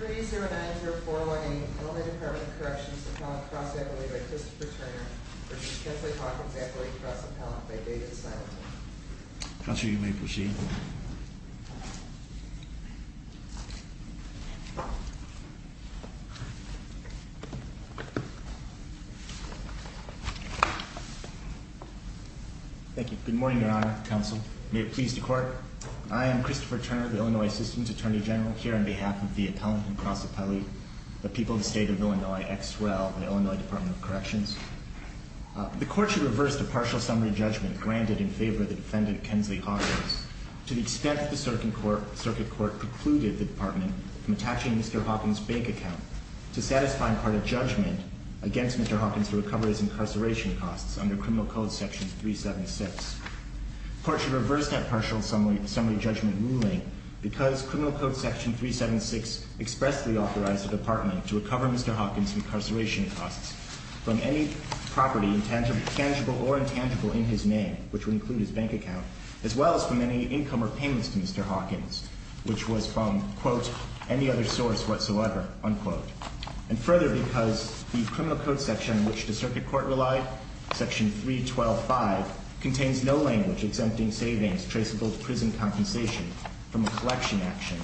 3-0-9-0-4-1-8 Illinois Department of Corrections Appellate Cross Appellate by Christopher Turner v. Kensley Hawkins Appellate Cross Appellate by David Simon Counselor, you may proceed. Thank you. Good morning, Your Honor, Counsel. May it please the Court. I am Christopher Turner, the Illinois System's Attorney General, here on behalf of the Appellant and Cross Appellate, the people of the State of Illinois, ex rel., the Illinois Department of Corrections. The Court should reverse the partial summary judgment granted in favor of the defendant, Kensley Hawkins, to the extent that the Circuit Court precluded the Department from attaching Mr. Hawkins' bank account to a satisfying part of judgment against Mr. Hawkins' recovery as incarceration costs under Criminal Code Section 376. The Court should reverse that partial summary judgment ruling because Criminal Code Section 376 expressly authorized the Department to recover Mr. Hawkins' incarceration costs from any property tangible or intangible in his name, which would include his bank account, as well as from any income or payments to Mr. Hawkins, which was from, quote, any other source whatsoever, unquote. And further, because the Criminal Code Section which the Circuit Court relied, Section 312.5, contains no language exempting savings traceable to prison compensation from a collection action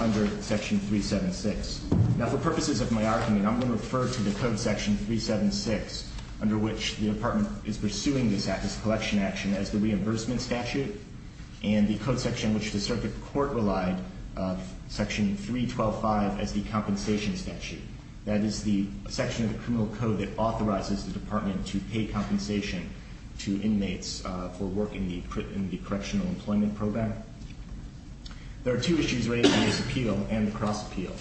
under Section 376. Now, for purposes of my argument, I'm going to refer to the Code Section 376, under which the Department is pursuing this collection action, as the reimbursement statute, and the Code Section which the Circuit Court relied, Section 312.5, as the compensation statute. That is the section of the Criminal Code that authorizes the Department to pay compensation to inmates for work in the Correctional Employment Program. There are two issues related to this appeal and the cross-appeal.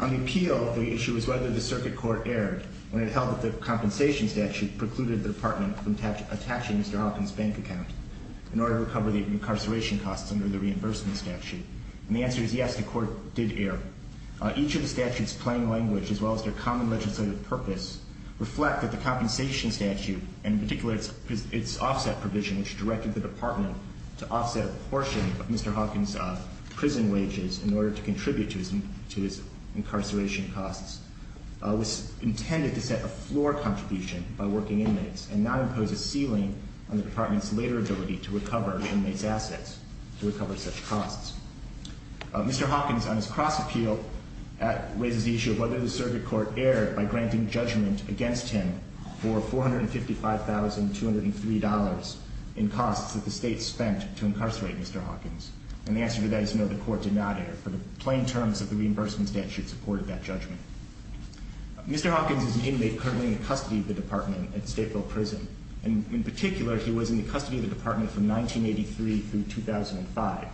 On the appeal, the issue is whether the Circuit Court erred when it held that the compensation statute precluded the Department from attaching Mr. Hawkins' bank account in order to recover the incarceration costs under the reimbursement statute. And the answer is yes, the Court did err. Each of the statute's plain language, as well as their common legislative purpose, reflect that the compensation statute, and in particular its offset provision which directed the Department to offset a portion of Mr. Hawkins' prison wages in order to contribute to his incarceration costs, was intended to set a floor contribution by working inmates and not impose a ceiling on the Department's later ability to recover inmates' assets, to recover such costs. Mr. Hawkins, on his cross-appeal, raises the issue of whether the Circuit Court erred by granting judgment against him for $455,203 in costs that the State spent to incarcerate Mr. Hawkins. And the answer to that is no, the Court did not err, for the plain terms of the reimbursement statute supported that judgment. Mr. Hawkins is an inmate currently in the custody of the Department at Stateville Prison. In particular, he was in the custody of the Department from 1983 through 2005.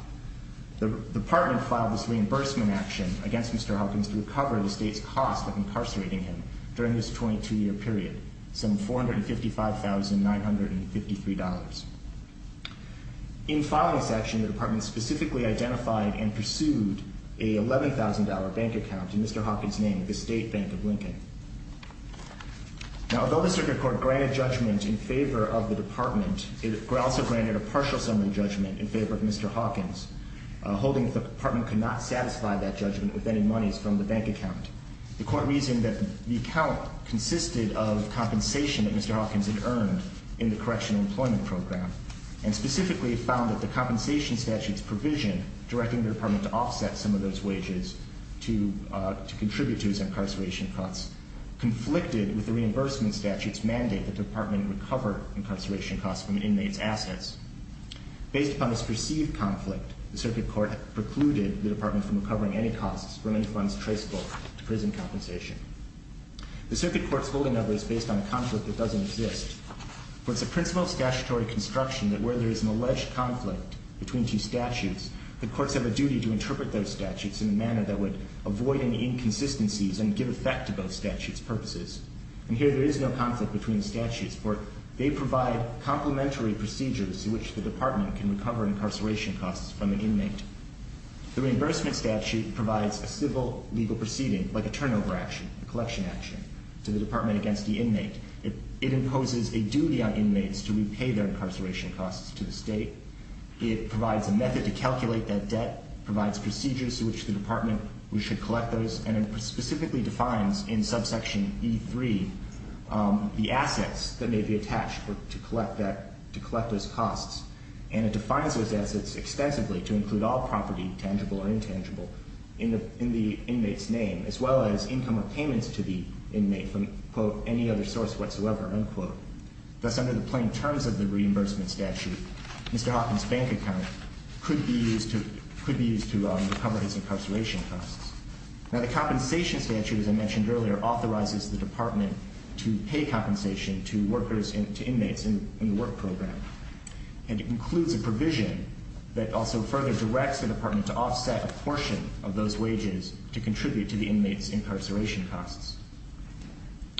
The Department filed this reimbursement action against Mr. Hawkins to recover the State's costs of incarcerating him during this 22-year period, some $455,953. In filing this action, the Department specifically identified and pursued a $11,000 bank account in Mr. Hawkins' name at the State Bank of Lincoln. Now, although the Circuit Court granted judgment in favor of the Department, it also granted a partial summary judgment in favor of Mr. Hawkins, holding that the Department could not satisfy that judgment with any monies from the bank account. The Court reasoned that the account consisted of compensation that Mr. Hawkins had earned in the Correctional Employment Program, and specifically found that the compensation statute's provision directing the Department to offset some of those wages to contribute to his incarceration costs conflicted with the reimbursement statute's mandate that the Department recover incarceration costs from an inmate's assets. Based upon this perceived conflict, the Circuit Court precluded the Department from recovering any costs from any funds traceable to prison compensation. The Circuit Court's holding of it is based on a conflict that doesn't exist, for it's a principle of statutory construction that where there is an alleged conflict between two statutes, the courts have a duty to interpret those statutes in a manner that would avoid any inconsistencies and give effect to both statutes' purposes. And here there is no conflict between the statutes, for they provide complementary procedures through which the Department can recover incarceration costs from an inmate. The reimbursement statute provides a civil legal proceeding, like a turnover action, a collection action, to the Department against the inmate. It imposes a duty on inmates to repay their incarceration costs to the state. It provides a method to calculate that debt, provides procedures through which the Department should collect those, and it specifically defines in subsection E3 the assets that may be attached to collect those costs. And it defines those assets extensively to include all property, tangible or intangible, in the inmate's name, as well as income or payments to the inmate from, quote, any other source whatsoever, unquote. Thus, under the plain terms of the reimbursement statute, Mr. Hoffman's bank account could be used to recover his incarceration costs. Now, the compensation statute, as I mentioned earlier, authorizes the Department to pay compensation to inmates in the work program. And it includes a provision that also further directs the Department to offset a portion of those wages to contribute to the inmate's incarceration costs.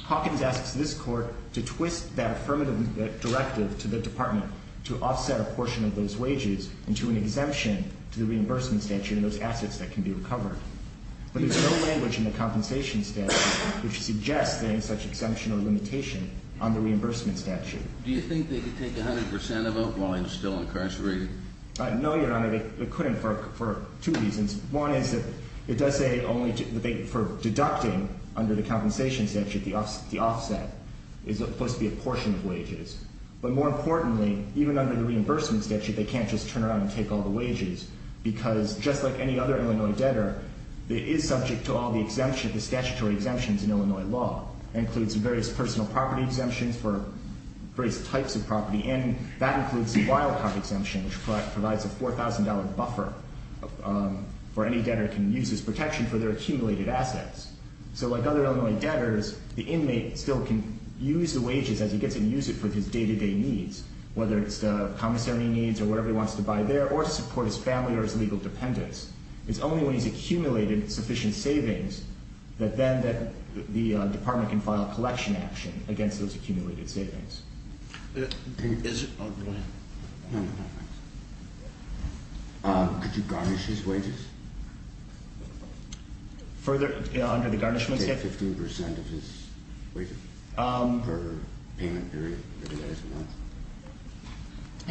Hawkins asks this Court to twist that affirmative directive to the Department to offset a portion of those wages into an exemption to the reimbursement statute and those assets that can be recovered. But there's no language in the compensation statute which suggests there is such exemption or limitation on the reimbursement statute. Do you think they could take 100 percent of it while he was still incarcerated? No, Your Honor, they couldn't for two reasons. One is that it does say only for deducting under the compensation statute the offset is supposed to be a portion of wages. But more importantly, even under the reimbursement statute, they can't just turn around and take all the wages because just like any other Illinois debtor, it is subject to all the exemptions, the statutory exemptions in Illinois law. It includes various personal property exemptions for various types of property, and that includes the wildcard exemption which provides a $4,000 buffer for any debtor who can use his protection for their accumulated assets. So like other Illinois debtors, the inmate still can use the wages as he gets them and use it for his day-to-day needs, whether it's commissary needs or whatever he wants to buy there, or to support his family or his legal dependents. It's only when he's accumulated sufficient savings that then the department can file a collection action against those accumulated savings. Is it – oh, go ahead. No, no, no, thanks. Could you garnish his wages? Further – under the garnishment statute? Take 15 percent of his wages per payment period for the next month?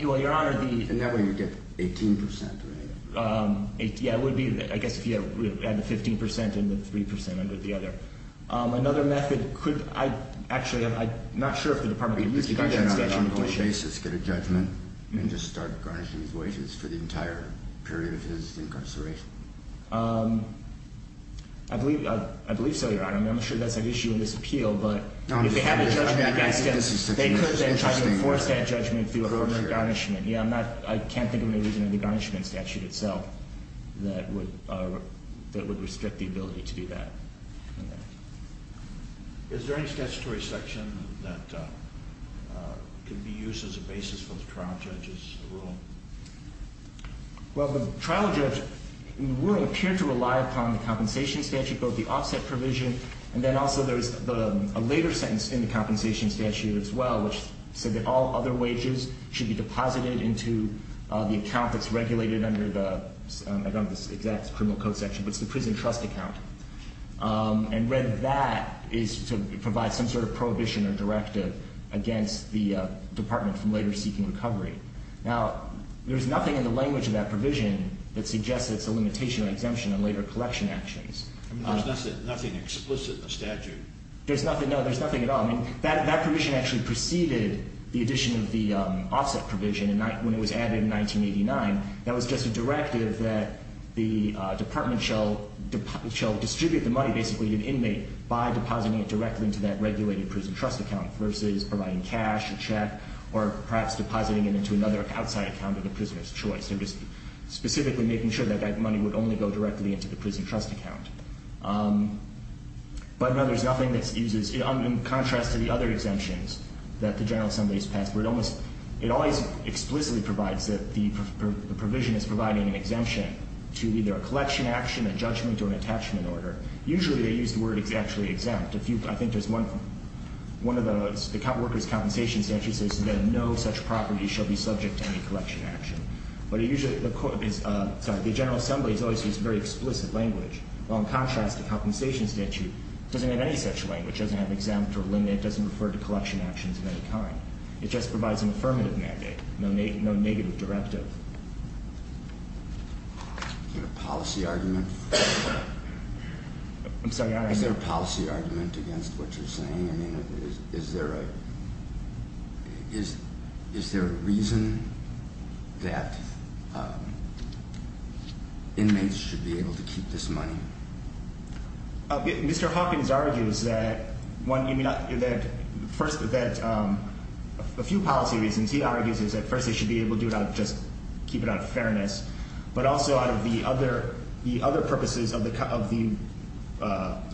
Well, Your Honor, the – And that way you get 18 percent, right? Yeah, it would be – I guess if you had the 15 percent and the 3 percent under the other. Another method could – actually, I'm not sure if the department could use the garnishment statute. But you can't have an ongoing case that's got a judgment and just start garnishing his wages for the entire period of his incarceration. I believe so, Your Honor. I mean, I'm sure that's an issue in this appeal, but if they have a judgment against him, they could then try to enforce that judgment through a permanent garnishment. Yeah, I'm not – I can't think of any reason in the garnishment statute itself that would restrict the ability to do that. Is there any statutory section that could be used as a basis for the trial judge's rule? Well, the trial judge rule appeared to rely upon the compensation statute, both the offset provision, and then also there is a later sentence in the compensation statute as well, which said that all other wages should be deposited into the account that's regulated under the – I don't have the exact criminal code section, but it's the prison trust account. And read that is to provide some sort of prohibition or directive against the department from later seeking recovery. Now, there's nothing in the language of that provision that suggests it's a limitation or exemption on later collection actions. I mean, there's nothing explicit in the statute. There's nothing – no, there's nothing at all. I mean, that provision actually preceded the addition of the offset provision when it was added in 1989. That was just a directive that the department shall distribute the money basically to the inmate by depositing it directly into that regulated prison trust account versus providing cash, a check, or perhaps depositing it into another outside account of the prisoner's choice. They're just specifically making sure that that money would only go directly into the prison trust account. But, no, there's nothing that uses – in contrast to the other exemptions that the General Assembly has passed, where it almost – it always explicitly provides that the provision is providing an exemption to either a collection action, a judgment, or an attachment order. Usually they use the word actually exempt. I think there's one – one of the workers' compensation statutes says that no such property shall be subject to any collection action. But it usually – the – sorry, the General Assembly has always used very explicit language. Well, in contrast, the compensation statute doesn't have any such language. It doesn't have exempt or limit. It doesn't refer to collection actions of any kind. It just provides an affirmative mandate, no negative directive. Is there a policy argument? I'm sorry, I don't understand. Is there a policy argument against what you're saying? I mean, is there a – is there a reason that inmates should be able to keep this money? Mr. Hawkins argues that one – I mean, that first – that a few policy reasons. He argues that first they should be able to do it out of just – keep it out of fairness, but also out of the other – the other purposes of the – of the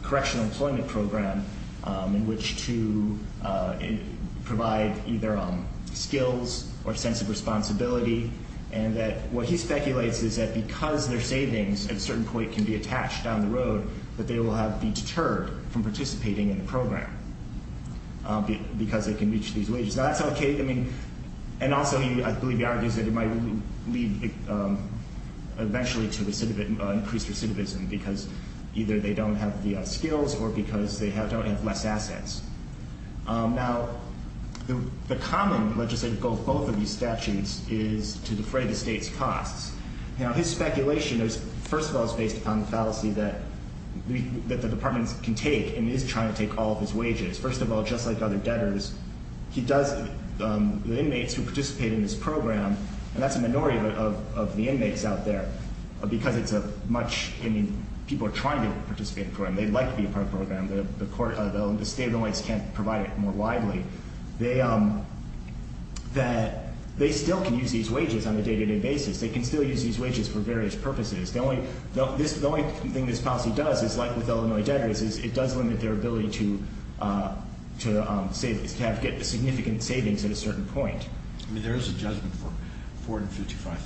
correctional employment program, in which to provide either skills or a sense of responsibility, and that what he speculates is that because their savings at a certain point can be attached down the road, that they will have – be deterred from participating in the program because they can reach these wages. Now, that's okay. I mean – and also he, I believe, argues that it might lead eventually to increased recidivism because either they don't have the skills or because they don't have less assets. Now, the common legislative goal of both of these statutes is to defray the state's costs. Now, his speculation is, first of all, it's based upon the fallacy that the department can take and is trying to take all of his wages. First of all, just like other debtors, he does – the inmates who participate in this program – and that's a minority of the inmates out there because it's a much – I mean, people are trying to participate in the program. They'd like to be a part of the program. The court – the state of Illinois can't provide it more widely. They – that they still can use these wages on a day-to-day basis. They can still use these wages for various purposes. The only thing this policy does is, like with Illinois debtors, is it does limit their ability to get significant savings at a certain point. I mean, there is a judgment for $455,000.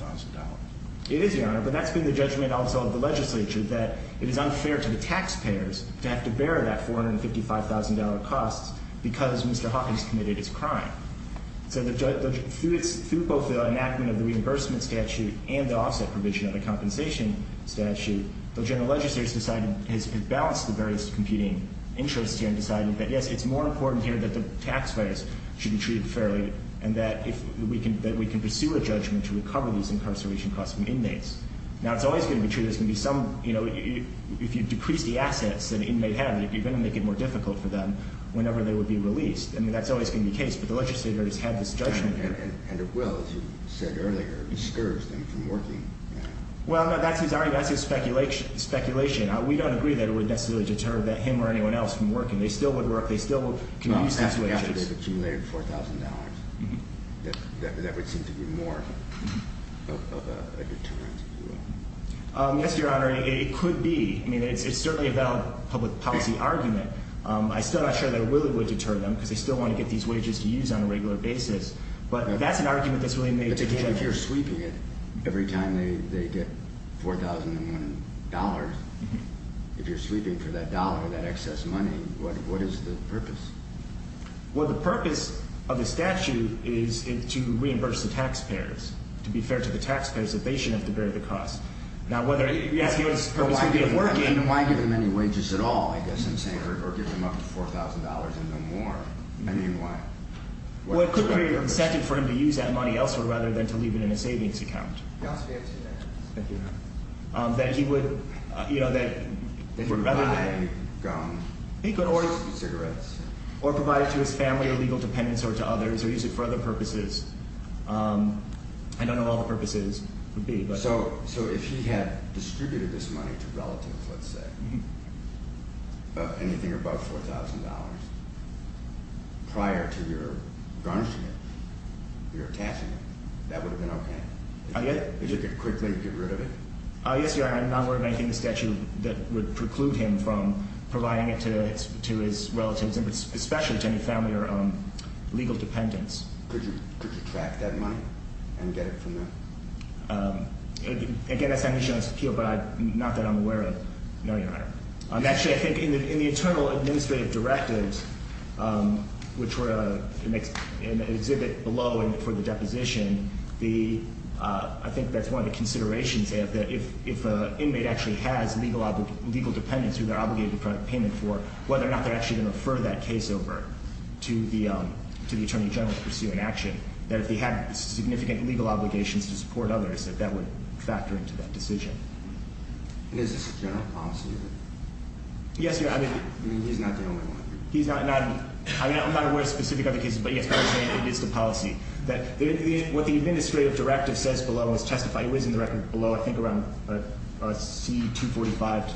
It is, Your Honor, but that's been the judgment also of the legislature, that it is unfair to the taxpayers to have to bear that $455,000 cost because Mr. Hawkins committed his crime. So the – through both the enactment of the reimbursement statute and the offset provision of the compensation statute, the legislature has decided – has balanced the various competing interests here and decided that, yes, it's more important here that the taxpayers should be treated fairly and that if we can – that we can pursue a judgment to recover these incarceration costs from inmates. Now, it's always going to be true there's going to be some – you know, if you decrease the assets that an inmate has, you're going to make it more difficult for them whenever they would be released. I mean, that's always going to be the case. But the legislature has had this judgment here. And it will, as you said earlier, discourage them from working. Well, no, that's his argument. That's his speculation. We don't agree that it would necessarily deter him or anyone else from working. They still would work. They still would – After they've accumulated $4,000, that would seem to be more of a deterrent. Yes, Your Honor, it could be. I mean, it's certainly a valid public policy argument. I'm still not sure that it really would deter them because they still want to get these wages to use on a regular basis. But that's an argument that's really made today. But if you're sweeping it every time they get $4,001, if you're sweeping for that dollar, that excess money, what is the purpose? Well, the purpose of the statute is to reimburse the taxpayers, to be fair to the taxpayers, that they shouldn't have to bear the cost. Now, whether – yes, the purpose would be of working. I mean, why give them any wages at all, I guess I'm saying, or give them up to $4,000 and no more? I mean, why? Well, it could create a incentive for him to use that money elsewhere rather than to leave it in a savings account. Yes, we have seen that. Thank you, Your Honor. That he would – you know, that he would rather that – He would buy gum. He could or – Cigarettes. Or provide it to his family or legal dependents or to others or use it for other purposes. I don't know what all the purposes would be. So if he had distributed this money to relatives, let's say, of anything above $4,000, prior to your garnishing it, your attaching it, that would have been okay? If you could quickly get rid of it? Yes, Your Honor. I'm not worried about anything in the statute that would preclude him from providing it to his relatives, especially to any family or legal dependents. Could you track that money and get it from them? Again, that's not an issue on this appeal, but not that I'm aware of. No, Your Honor. Actually, I think in the internal administrative directives, which were in the exhibit below and for the deposition, the – I think that's one of the considerations there, that if an inmate actually has legal dependents who they're obligated to provide payment for, whether or not they're actually going to refer that case over to the Attorney General to pursue an action, that if they had significant legal obligations to support others, that that would factor into that decision. And is this a general policy? Yes, Your Honor. I mean, he's not the only one. He's not – I mean, I'm not aware of specific other cases, but, yes, by the way, it is the policy. What the administrative directive says below is testify – it was in the record below, I think around C245 to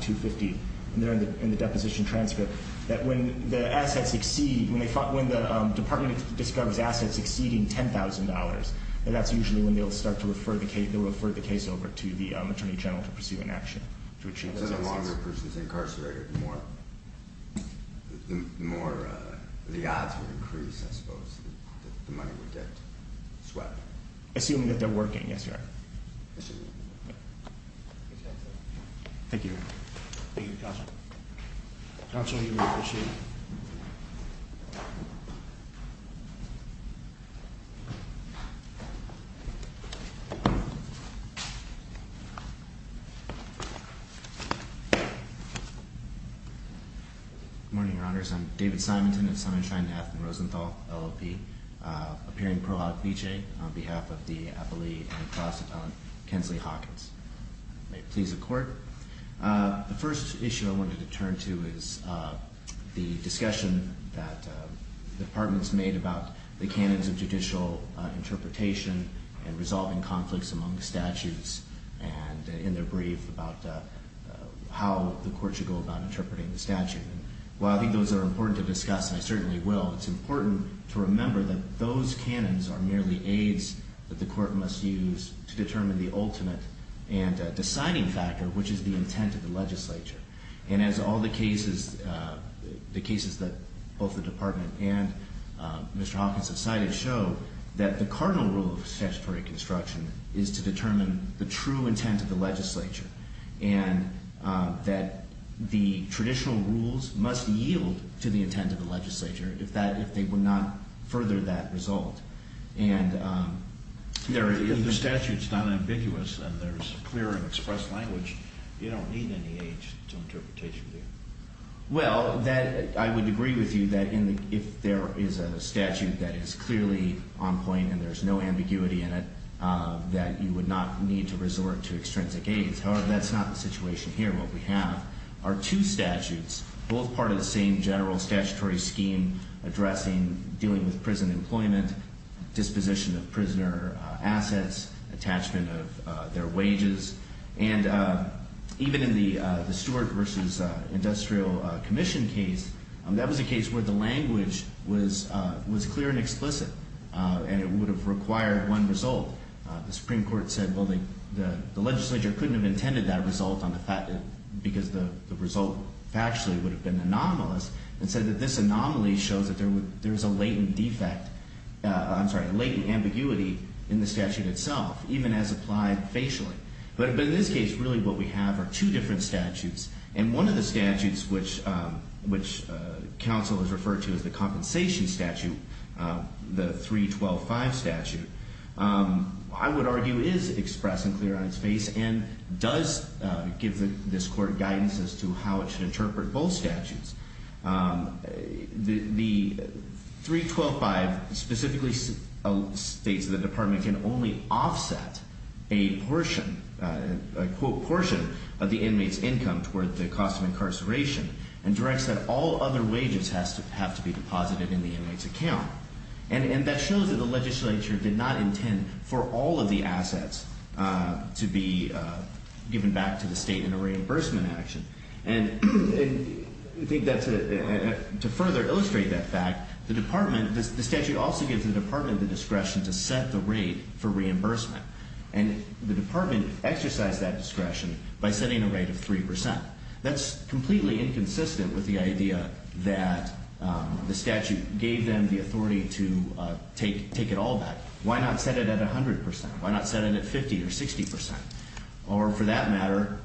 250, and they're in the deposition transcript, that when the assets exceed – when the department discovers assets exceeding $10,000, that that's usually when they'll start to refer the case over to the Attorney General to pursue an action to achieve those assets. So the longer a person's incarcerated, the more – the odds would increase, I suppose, that the money would get swept. Assuming that they're working, yes, Your Honor. Assuming. Thank you, Your Honor. Thank you, Counsel. Counsel, you may proceed. Good morning, Your Honors. I'm David Simonton of Summershine, Nath, and Rosenthal, LLP, appearing pro hoc vicee on behalf of the appellee and class appellant, Kensley Hawkins. May it please the Court. The first issue I wanted to turn to is the discussion that the department's made about the canons of judicial interpretation and resolving conflicts among statutes, and in their brief about how the Court should go about interpreting the statute. While I think those are important to discuss, and I certainly will, it's important to remember that those canons are merely aids that the Court must use to determine the ultimate and deciding factor, which is the intent of the legislature. And as all the cases – the cases that both the department and Mr. Hawkins have cited show, that the cardinal rule of statutory construction is to determine the true intent of the legislature, and that the traditional rules must yield to the intent of the legislature if they would not further that result. If the statute's not ambiguous and there's clear and expressed language, you don't need any aids to interpretation there. Well, I would agree with you that if there is a statute that is clearly on point and there's no ambiguity in it, that you would not need to resort to extrinsic aids. However, that's not the situation here. What we have are two statutes, both part of the same general statutory scheme addressing dealing with prison employment, disposition of prisoner assets, attachment of their wages. And even in the Stewart v. Industrial Commission case, that was a case where the language was clear and explicit, and it would have required one result. The Supreme Court said, well, the legislature couldn't have intended that result, because the result factually would have been anomalous, and said that this anomaly shows that there's a latent defect – I'm sorry, a latent ambiguity in the statute itself, even as applied facially. But in this case, really what we have are two different statutes, and one of the statutes which counsel has referred to as the compensation statute, the 312-5 statute, I would argue is express and clear on its face and does give this court guidance as to how it should interpret both statutes. The 312-5 specifically states that the department can only offset a portion of the inmate's income toward the cost of incarceration, and directs that all other wages have to be deposited in the inmate's account. And that shows that the legislature did not intend for all of the assets to be given back to the state in a reimbursement action. And to further illustrate that fact, the statute also gives the department the discretion to set the rate for reimbursement. And the department exercised that discretion by setting a rate of 3%. That's completely inconsistent with the idea that the statute gave them the authority to take it all back. Why not set it at 100%? Why not set it at 50% or 60%? Or for that matter,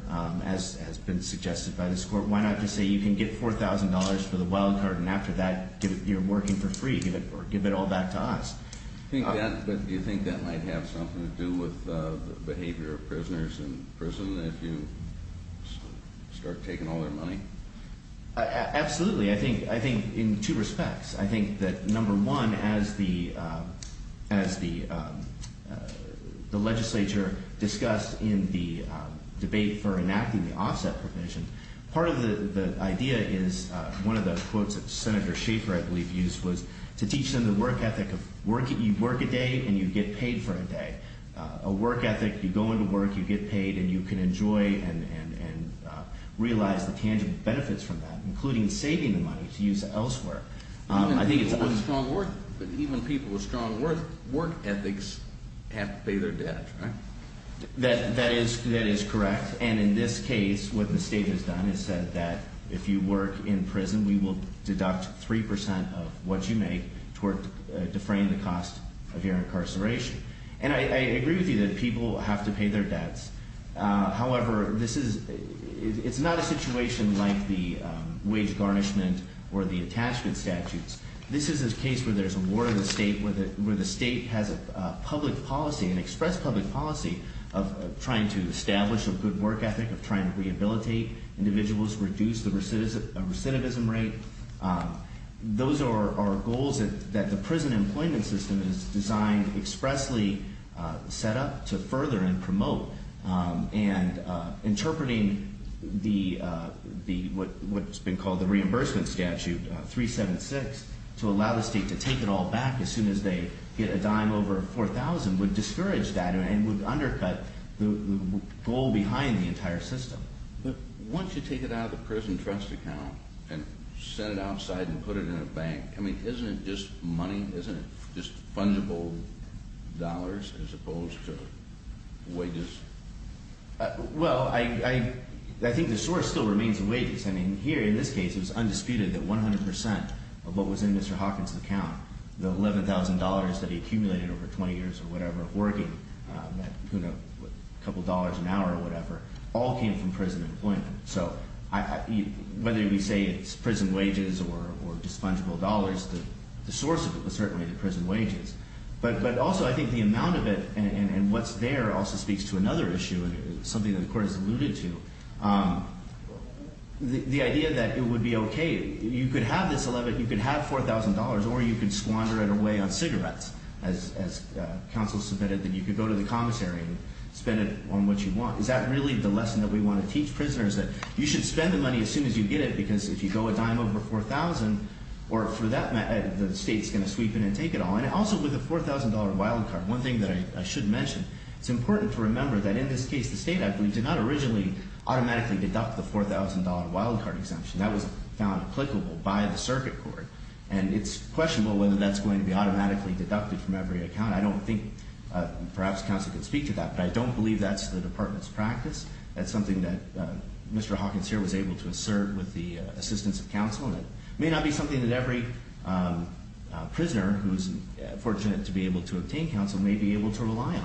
as has been suggested by this court, why not just say you can get $4,000 for the wild card, and after that you're working for free, or give it all back to us? Do you think that might have something to do with the behavior of prisoners in prison if you start taking all their money? Absolutely. I think in two respects. I think that number one, as the legislature discussed in the debate for enacting the offset provision, part of the idea is one of the quotes that Senator Schaffer, I believe, used was to teach them the work ethic of you work a day and you get paid for a day. A work ethic, you go into work, you get paid, and you can enjoy and realize the tangible benefits from that, including saving the money to use elsewhere. Even people with strong work ethics have to pay their debts, right? That is correct. And in this case, what the state has done is said that if you work in prison, we will deduct 3% of what you make to deframe the cost of your incarceration. And I agree with you that people have to pay their debts. However, it's not a situation like the wage garnishment or the attachment statutes. This is a case where there's a war in the state, where the state has a public policy, an express public policy, of trying to establish a good work ethic, of trying to rehabilitate individuals, reduce the recidivism rate. Those are goals that the prison employment system is designed, expressly set up to further and promote. And interpreting what's been called the reimbursement statute, 376, to allow the state to take it all back as soon as they get a dime over $4,000 would discourage that and would undercut the goal behind the entire system. But once you take it out of the prison trust account and send it outside and put it in a bank, I mean, isn't it just money? Isn't it just fungible dollars as opposed to wages? Well, I think the source still remains the wages. I mean, here in this case, it was undisputed that 100% of what was in Mr. Hawkins' account, the $11,000 that he accumulated over 20 years or whatever of working, you know, a couple dollars an hour or whatever, all came from prison employment. So whether we say it's prison wages or just fungible dollars, the source of it was certainly the prison wages. But also I think the amount of it and what's there also speaks to another issue, something that the Court has alluded to, the idea that it would be okay. You could have this $11,000, you could have $4,000, or you could squander it away on cigarettes. As counsel submitted, that you could go to the commissary and spend it on what you want. Is that really the lesson that we want to teach prisoners? That you should spend the money as soon as you get it because if you go a dime over $4,000, the state's going to sweep in and take it all. And also with a $4,000 wild card, one thing that I should mention, it's important to remember that in this case the state, I believe, did not originally automatically deduct the $4,000 wild card exemption. That was found applicable by the circuit court. And it's questionable whether that's going to be automatically deducted from every account. I don't think perhaps counsel could speak to that, but I don't believe that's the Department's practice. That's something that Mr. Hawkins here was able to assert with the assistance of counsel. It may not be something that every prisoner who's fortunate to be able to obtain counsel may be able to rely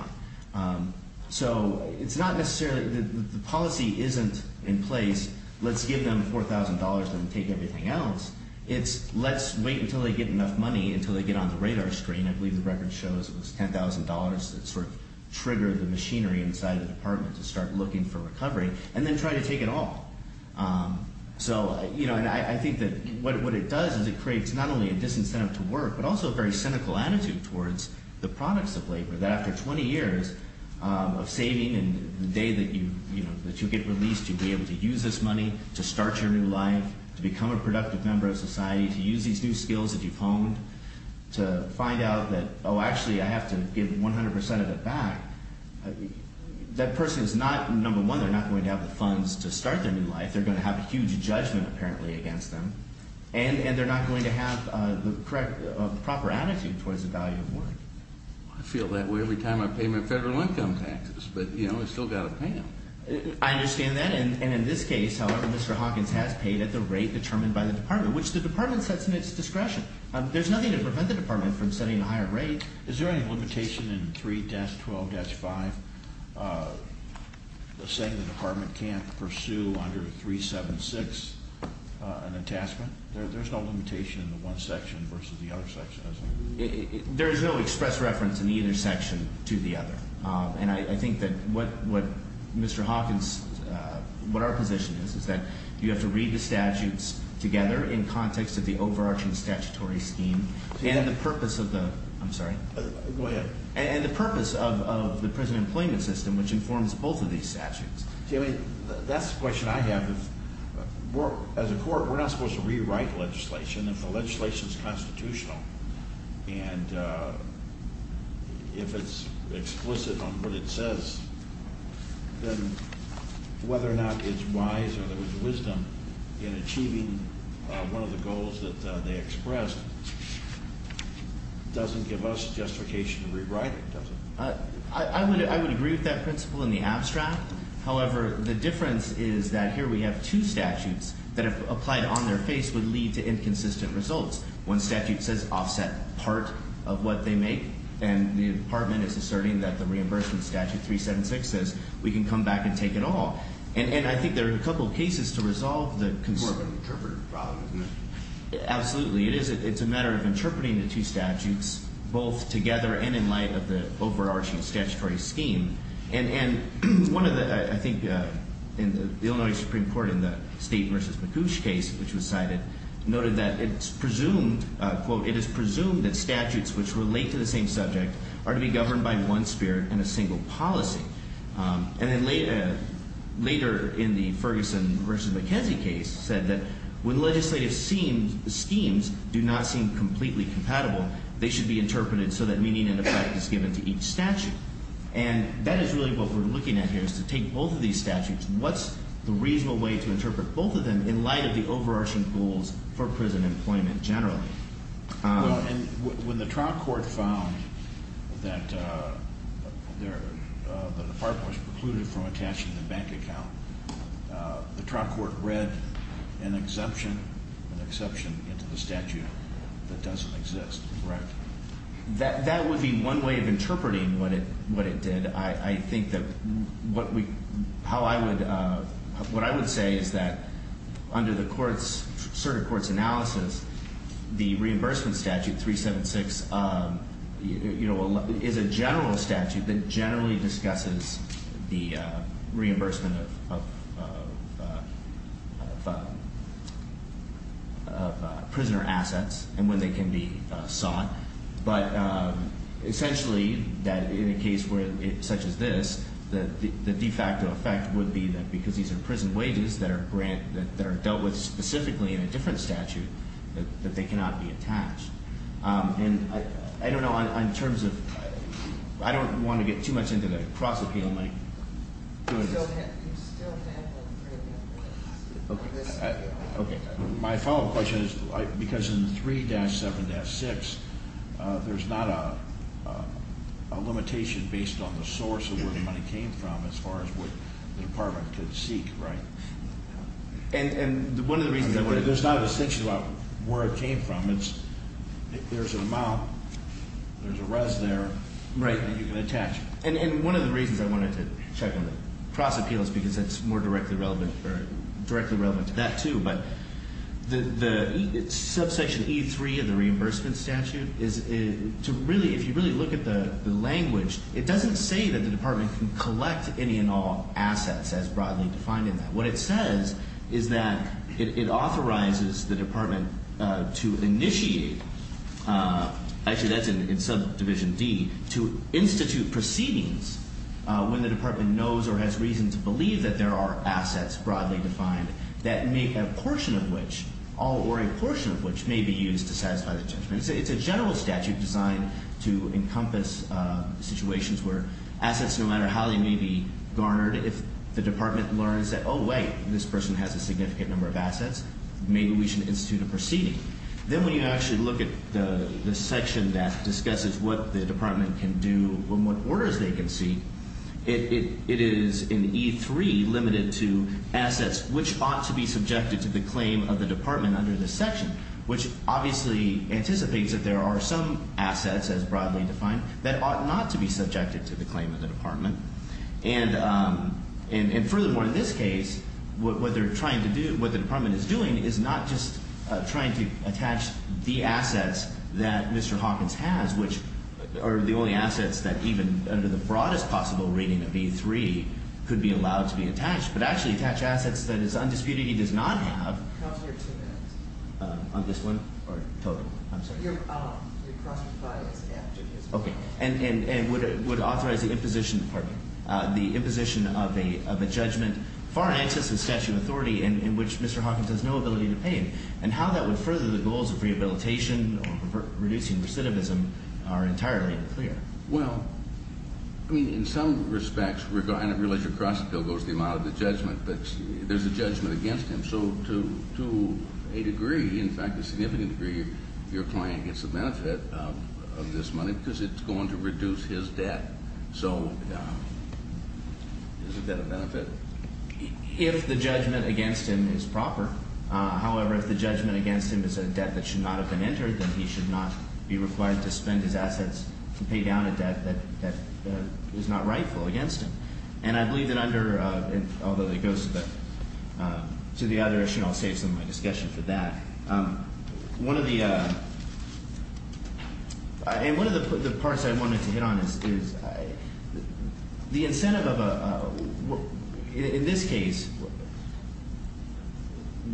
on. So it's not necessarily the policy isn't in place, let's give them $4,000 and take everything else. It's let's wait until they get enough money, until they get on the radar screen. I believe the record shows it was $10,000 that sort of triggered the machinery inside the Department to start looking for recovery and then try to take it all. So, you know, and I think that what it does is it creates not only a disincentive to work, but also a very cynical attitude towards the products of labor, that after 20 years of saving and the day that you, you know, that you get released, you'd be able to use this money to start your new life, to become a productive member of society, to use these new skills that you've honed to find out that, oh, actually I have to give 100% of it back. That person is not, number one, they're not going to have the funds to start their new life. They're going to have a huge judgment apparently against them, and they're not going to have the correct proper attitude towards the value of work. I feel that way every time I pay my federal income taxes, but, you know, I still got to pay them. I understand that, and in this case, however, Mr. Hawkins has paid at the rate determined by the Department, which the Department sets in its discretion. There's nothing to prevent the Department from setting a higher rate. Is there any limitation in 3-12-5 saying the Department can't pursue under 376 an attachment? There's no limitation in the one section versus the other section, is there? There is no express reference in either section to the other, and I think that what Mr. Hawkins, what our position is, is that you have to read the statutes together in context of the overarching statutory scheme and the purpose of the prison employment system, which informs both of these statutes. That's the question I have. As a court, we're not supposed to rewrite legislation if the legislation is constitutional, and if it's explicit on what it says, then whether or not it's wise or there was wisdom in achieving one of the goals that they expressed doesn't give us justification to rewrite it, does it? I would agree with that principle in the abstract. However, the difference is that here we have two statutes that if applied on their face would lead to inconsistent results. One statute says offset part of what they make, and the Department is asserting that the reimbursement statute 376 says we can come back and take it all. And I think there are a couple of cases to resolve the concern. It's more of an interpretive problem, isn't it? Absolutely. It's a matter of interpreting the two statutes both together and in light of the overarching statutory scheme. And one of the, I think, in the Illinois Supreme Court in the State v. McCouche case, which was cited, noted that it's presumed, quote, it is presumed that statutes which relate to the same subject are to be governed by one spirit and a single policy. And then later in the Ferguson v. McKenzie case said that when legislative schemes do not seem completely compatible, they should be interpreted so that meaning and effect is given to each statute. And that is really what we're looking at here is to take both of these statutes, and what's the reasonable way to interpret both of them in light of the overarching goals for prison employment generally? And when the trial court found that the department was precluded from attaching the bank account, the trial court read an exception, an exception into the statute that doesn't exist, correct? That would be one way of interpreting what it did. I think that what we, how I would, what I would say is that under the court's, certain court's analysis, the reimbursement statute 376, you know, is a general statute that generally discusses the reimbursement of prisoner assets and when they can be sought. But essentially that in a case such as this, the de facto effect would be that because these are prison wages that are dealt with specifically in a different statute, that they cannot be attached. And I don't know, in terms of, I don't want to get too much into the cross-appeal. My follow-up question is, because in 3-7-6, there's not a limitation based on the source of where the money came from as far as what the department could seek, right? There's not a distinction about where it came from. There's an amount, there's a res there that you can attach. And one of the reasons I wanted to check on the cross-appeal is because it's more directly relevant to that too. But the subsection E3 of the reimbursement statute is to really, if you really look at the language, it doesn't say that the department can collect any and all assets as broadly defined in that. What it says is that it authorizes the department to initiate, actually that's in subdivision D, to institute proceedings when the department knows or has reason to believe that there are assets broadly defined, that make a portion of which, all or a portion of which, may be used to satisfy the judgment. It's a general statute designed to encompass situations where assets, no matter how they may be garnered, if the department learns that, oh wait, this person has a significant number of assets, maybe we should institute a proceeding. Then when you actually look at the section that discusses what the department can do and what orders they can seek, it is in E3 limited to assets which ought to be subjected to the claim of the department under this section, which obviously anticipates that there are some assets as broadly defined that ought not to be subjected to the claim of the department. And furthermore, in this case, what they're trying to do, what the department is doing, is not just trying to attach the assets that Mr. Hawkins has, which are the only assets that even under the broadest possible reading of E3 could be allowed to be attached, but actually attach assets that his undisputed he does not have on this one or total. I'm sorry. Okay. And would authorize the imposition of a judgment far in excess of statute of authority in which Mr. Hawkins has no ability to pay him. And how that would further the goals of rehabilitation or reducing recidivism are entirely unclear. Well, I mean, in some respects, and I realize you're crossing the bill goes the amount of the judgment, but there's a judgment against him. So to a degree, in fact, a significant degree, your client gets the benefit of this money because it's going to reduce his debt. So isn't that a benefit? If the judgment against him is proper, however, if the judgment against him is a debt that should not have been entered, then he should not be required to spend his assets to pay down a debt that is not rightful against him. And I believe that under, although it goes to the other issue, I'll save some of my discussion for that. One of the parts I wanted to hit on is the incentive of a, in this case,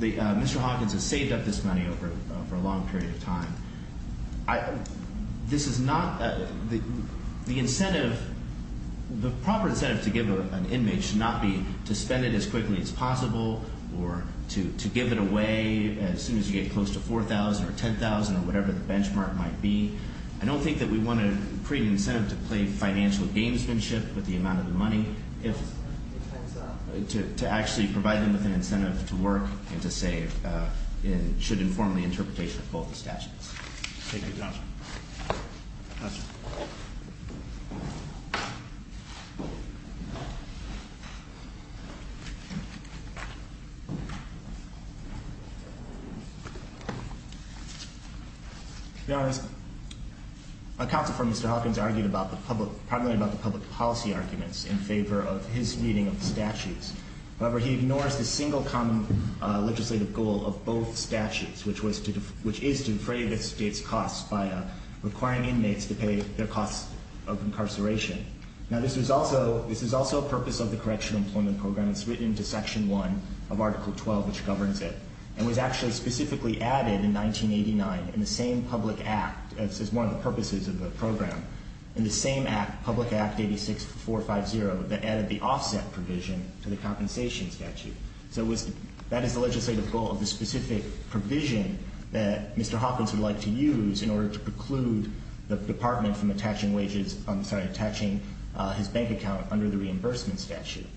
Mr. Hawkins has saved up this money over a long period of time. This is not, the incentive, the proper incentive to give an inmate should not be to spend it as quickly as possible, or to give it away as soon as you get close to $4,000 or $10,000 or whatever the benchmark might be. I don't think that we want to create an incentive to play financial gamesmanship with the amount of the money. To actually provide them with an incentive to work and to save should inform the interpretation of both the statutes. Thank you, Counselor. Counselor. To be honest, my counsel for Mr. Hawkins argued about the public, primarily about the public policy arguments in favor of his reading of the statutes. However, he ignores the single common legislative goal of both statutes, which is to defray the state's costs by requiring inmates to pay their costs of incarceration. Now, this is also a purpose of the Correctional Employment Program. It's written into Section 1 of Article 12, which governs it, and was actually specifically added in 1989 in the same public act, as one of the purposes of the program, in the same act, Public Act 86-450, that added the offset provision to the compensation statute. So that is the legislative goal of the specific provision that Mr. Hawkins would like to use in order to preclude the Department from attaching wages, I'm sorry, attaching his bank account under the reimbursement statute.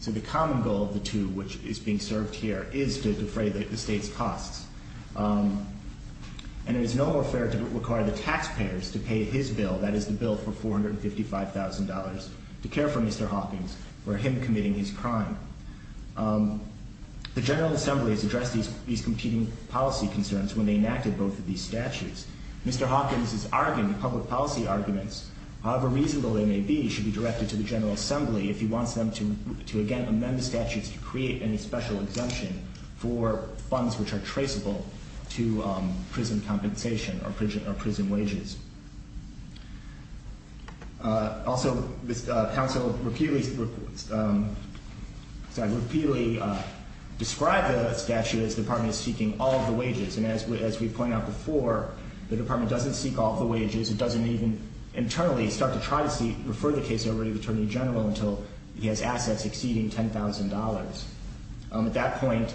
So the common goal of the two, which is being served here, is to defray the state's costs. And it is no more fair to require the taxpayers to pay his bill, that is the bill for $455,000, to care for Mr. Hawkins, for him committing his crime. The General Assembly has addressed these competing policy concerns when they enacted both of these statutes. Mr. Hawkins' argument, public policy arguments, however reasonable they may be, should be directed to the General Assembly if he wants them to again amend the statutes to create any special exemption for funds which are traceable to prison compensation or prison wages. Also, the Council repeatedly described the statute as the Department seeking all of the wages. And as we pointed out before, the Department doesn't seek all of the wages. It doesn't even internally start to try to refer the case over to the Attorney General until he has assets exceeding $10,000. At that point,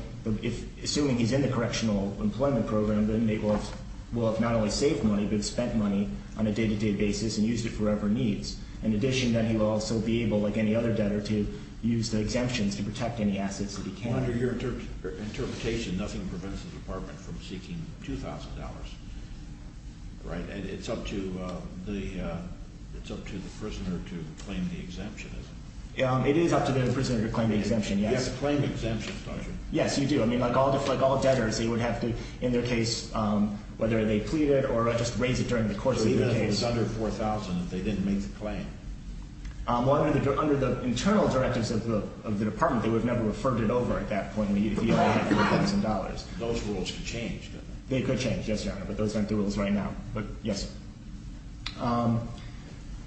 assuming he's in the Correctional Employment Program, then he will have not only saved money but spent money on a day-to-day basis and used it for other needs. In addition, then he will also be able, like any other debtor, to use the exemptions to protect any assets that he can. Under your interpretation, nothing prevents the Department from seeking $2,000, right? It's up to the prisoner to claim the exemption, isn't it? It is up to the prisoner to claim the exemption, yes. You have to claim the exemption, don't you? Yes, you do. I mean, like all debtors, they would have to, in their case, whether they pleaded or just raise it during the course of the case. So even if it was under $4,000, if they didn't make the claim? Well, under the internal directives of the Department, they would have never referred it over at that point if he only had $4,000. Those rules could change, couldn't they? They could change, yes, Your Honor, but those aren't the rules right now. But, yes, sir.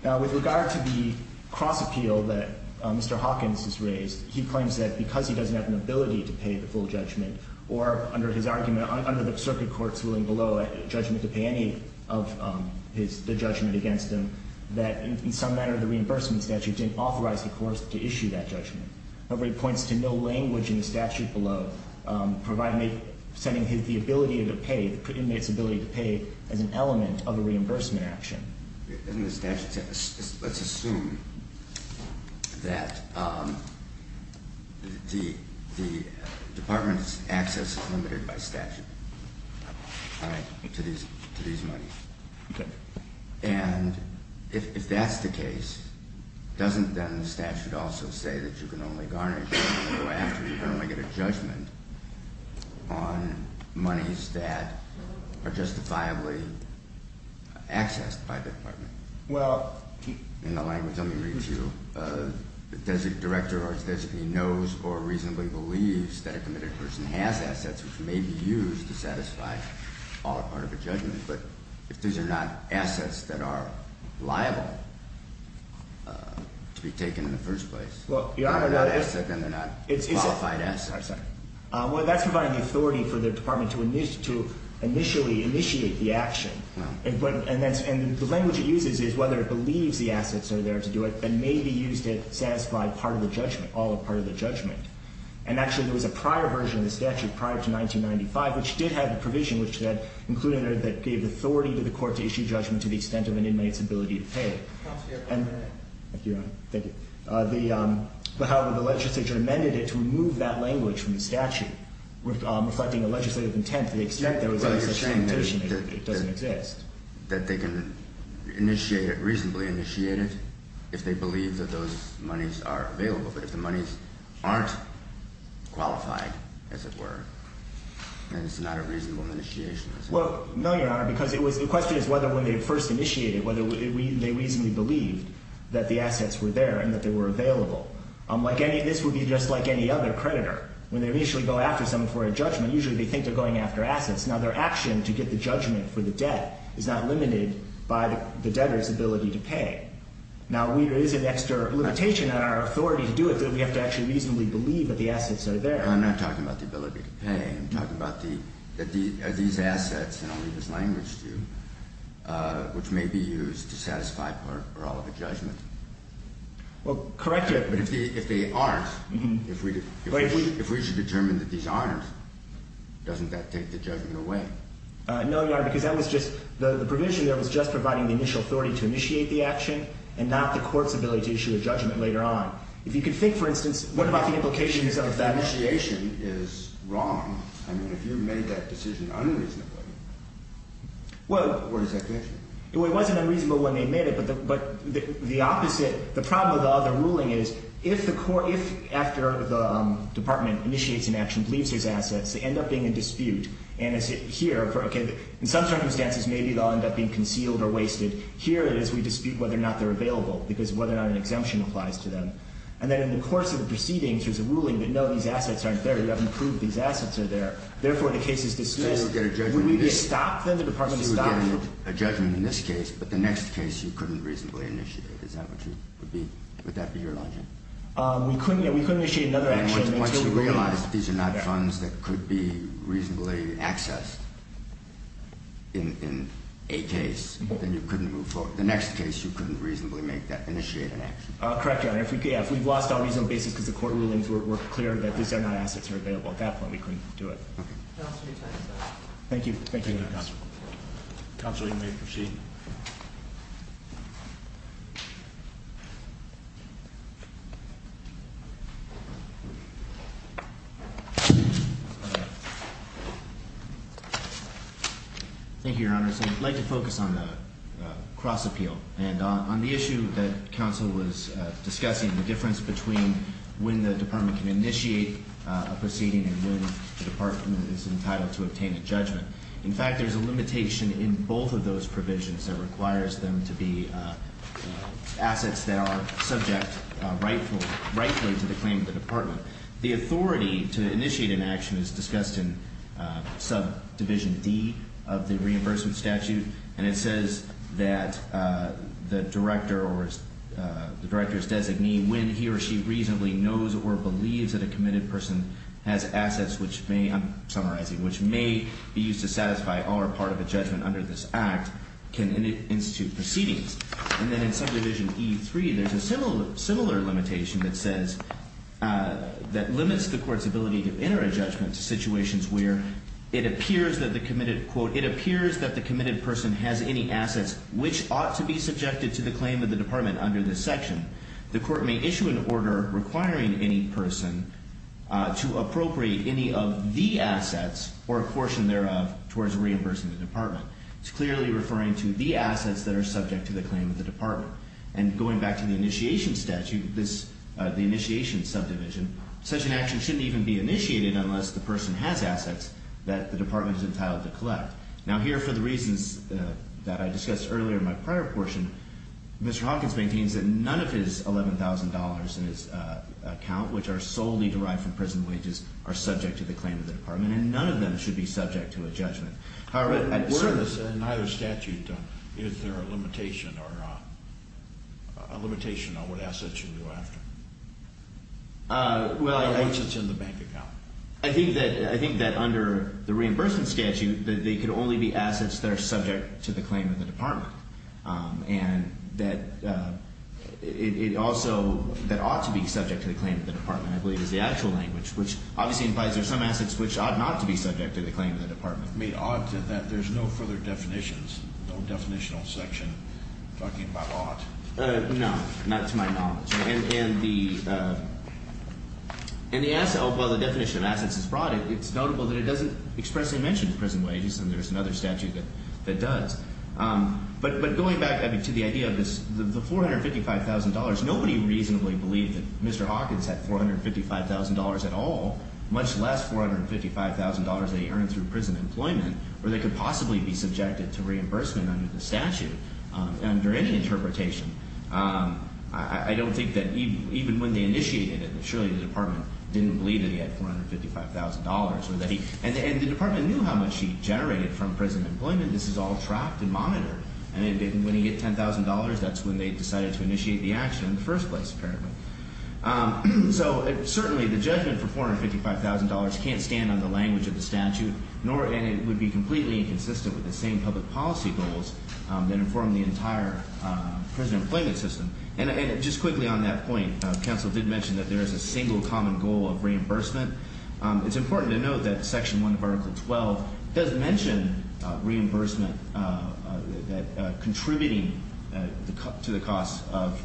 Now, with regard to the cross appeal that Mr. Hawkins has raised, he claims that because he doesn't have an ability to pay the full judgment or, under his argument, under the circuit court's ruling below, a judgment to pay any of the judgment against him, that in some manner the reimbursement statute didn't authorize the court to issue that judgment. However, he points to no language in the statute below providing the ability to pay, the inmate's ability to pay as an element of a reimbursement action. In the statute, let's assume that the Department's access is limited by statute to these monies. Okay. And if that's the case, doesn't then the statute also say that you can only garner a judgment on monies that are justifiably accessed by the Department? Well, he… In the language. Let me read to you. The director or his designee knows or reasonably believes that a committed person has assets which may be used to satisfy all or part of a judgment. But if these are not assets that are liable to be taken in the first place… If they're not assets, then they're not qualified assets. Well, that's providing the authority for the Department to initially initiate the action. And the language it uses is whether it believes the assets are there to do it and may be used to satisfy part of the judgment, all or part of the judgment. And actually, there was a prior version of the statute prior to 1995 which did have a provision which said, including that it gave authority to the court to issue judgment to the extent of an inmate's ability to pay. Thank you, Your Honor. Thank you. However, the legislature amended it to remove that language from the statute reflecting a legislative intent to the extent there was any such limitation. It doesn't exist. That they can reasonably initiate it if they believe that those monies are available. But if the monies aren't qualified, as it were, then it's not a reasonable initiation, is it? Well, no, Your Honor, because the question is whether when they first initiated it, whether they reasonably believed that the assets were there and that they were available. This would be just like any other creditor. When they initially go after someone for a judgment, usually they think they're going after assets. Now, their action to get the judgment for the debt is not limited by the debtor's ability to pay. Now, there is an extra limitation on our authority to do it that we have to actually reasonably believe that the assets are there. I'm not talking about the ability to pay. I'm talking about are these assets, and I'll leave this language to you, which may be used to satisfy parole of a judgment? Well, correct your question. But if they aren't, if we should determine that these aren't, doesn't that take the judgment away? No, Your Honor, because that was just the provision there was just providing the initial authority to initiate the action and not the court's ability to issue a judgment later on. If you could think, for instance, what about the implications of that? The initiation is wrong. I mean, if you made that decision unreasonably, where does that take you? Well, it wasn't unreasonable when they made it, but the opposite, the problem with the other ruling is if the court, if after the department initiates an action, believes there's assets, they end up being in dispute. And here, okay, in some circumstances, maybe they'll end up being concealed or wasted. Here it is we dispute whether or not they're available because whether or not an exemption applies to them. And then in the course of the proceedings, there's a ruling that, no, these assets aren't there. You haven't proved these assets are there. Therefore, the case is disputed. So you would get a judgment in this case, but the next case you couldn't reasonably initiate. Is that what you would be? Would that be your logic? We couldn't initiate another action until we realized these are not funds that could be reasonably accessed in a case. Then you couldn't move forward. The next case, you couldn't reasonably make that, initiate an action. Correct, Your Honor. If we've lost on a reasonable basis because the court rulings were clear that these are not assets that are available at that point, we couldn't do it. Okay. Thank you. Thank you, Counsel. Counsel, you may proceed. Thank you, Your Honor. So I'd like to focus on the cross appeal and on the issue that counsel was discussing, the difference between when the department can initiate a proceeding and when the department is entitled to obtain a judgment. In fact, there's a limitation in both of those provisions that requires them to be assets that are subject rightfully to the claim of the department. So the authority to initiate an action is discussed in subdivision D of the reimbursement statute, and it says that the director or the director's designee, when he or she reasonably knows or believes that a committed person has assets which may, I'm summarizing, which may be used to satisfy or are part of a judgment under this act, can institute proceedings. And then in subdivision E3, there's a similar limitation that says, that limits the court's ability to enter a judgment to situations where it appears that the committed, quote, it appears that the committed person has any assets which ought to be subjected to the claim of the department under this section. The court may issue an order requiring any person to appropriate any of the assets or a portion thereof towards reimbursing the department. It's clearly referring to the assets that are subject to the claim of the department. And going back to the initiation statute, the initiation subdivision, such an action shouldn't even be initiated unless the person has assets that the department is entitled to collect. Now, here, for the reasons that I discussed earlier in my prior portion, Mr. Hawkins maintains that none of his $11,000 in his account, which are solely derived from prison wages, are subject to the claim of the department, and none of them should be subject to a judgment. In either statute, is there a limitation or a limitation on what assets you go after? Assets in the bank account. I think that under the reimbursement statute, they could only be assets that are subject to the claim of the department. And that it also, that ought to be subject to the claim of the department, I believe, is the actual language, which obviously implies there's some assets which ought not to be subject to the claim of the department. I mean, ought to that there's no further definitions, no definitional section talking about ought. No, not to my knowledge. And the asset, although the definition of assets is brought in, it's notable that it doesn't expressly mention prison wages, and there's another statute that does. But going back to the idea of the $455,000, nobody reasonably believed that Mr. Hawkins had $455,000 at all, much less $455,000 that he earned through prison employment, where they could possibly be subjected to reimbursement under the statute, under any interpretation. I don't think that even when they initiated it, that surely the department didn't believe that he had $455,000. And the department knew how much he generated from prison employment. This is all tracked and monitored. And when he hit $10,000, that's when they decided to initiate the action in the first place, apparently. So certainly the judgment for $455,000 can't stand on the language of the statute, and it would be completely inconsistent with the same public policy goals that inform the entire prison employment system. And just quickly on that point, counsel did mention that there is a single common goal of reimbursement. It's important to note that Section 1 of Article 12 does mention reimbursement, that contributing to the cost of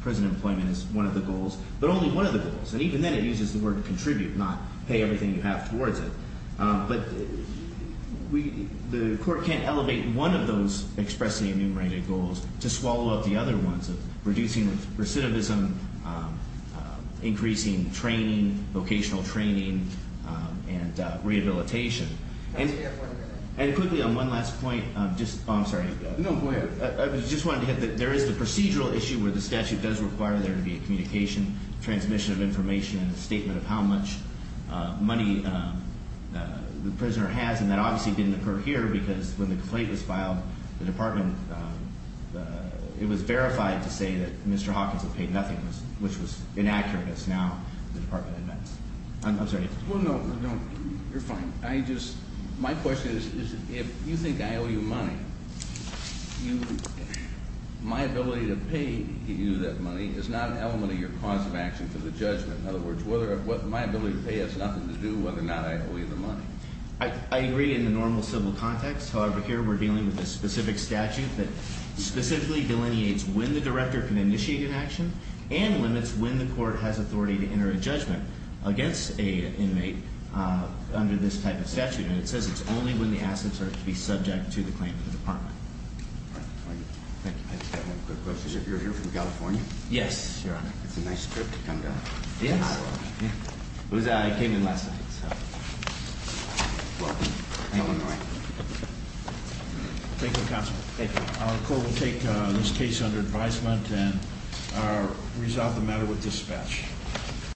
prison employment is one of the goals, but only one of the goals. And even then it uses the word contribute, not pay everything you have towards it. But the court can't elevate one of those expressly enumerated goals to swallow up the other ones, reducing recidivism, increasing training, vocational training, and rehabilitation. And quickly on one last point, I'm sorry. No, go ahead. I just wanted to hit that there is the procedural issue where the statute does require there to be a communication, transmission of information, and a statement of how much money the prisoner has, and that obviously didn't occur here because when the complaint was filed, the department, it was verified to say that Mr. Hawkins had paid nothing, which was inaccurate. It's now the department admits. I'm sorry. Well, no, you're fine. My question is if you think I owe you money, my ability to pay you that money is not an element of your cause of action for the judgment. In other words, my ability to pay has nothing to do with whether or not I owe you the money. I agree in the normal civil context. However, here we're dealing with a specific statute that specifically delineates when the director can initiate an action and limits when the court has authority to enter a judgment against an inmate under this type of statute, and it says it's only when the assets are to be subject to the claim of the department. All right. Thank you. I just have one quick question. You're here from California? Yes, Your Honor. It's a nice trip to come down. It is? Yeah. I came in last night, so. Welcome to Illinois. Thank you, Counsel. Thank you. Our court will take this case under advisement and resolve the matter with dispatch.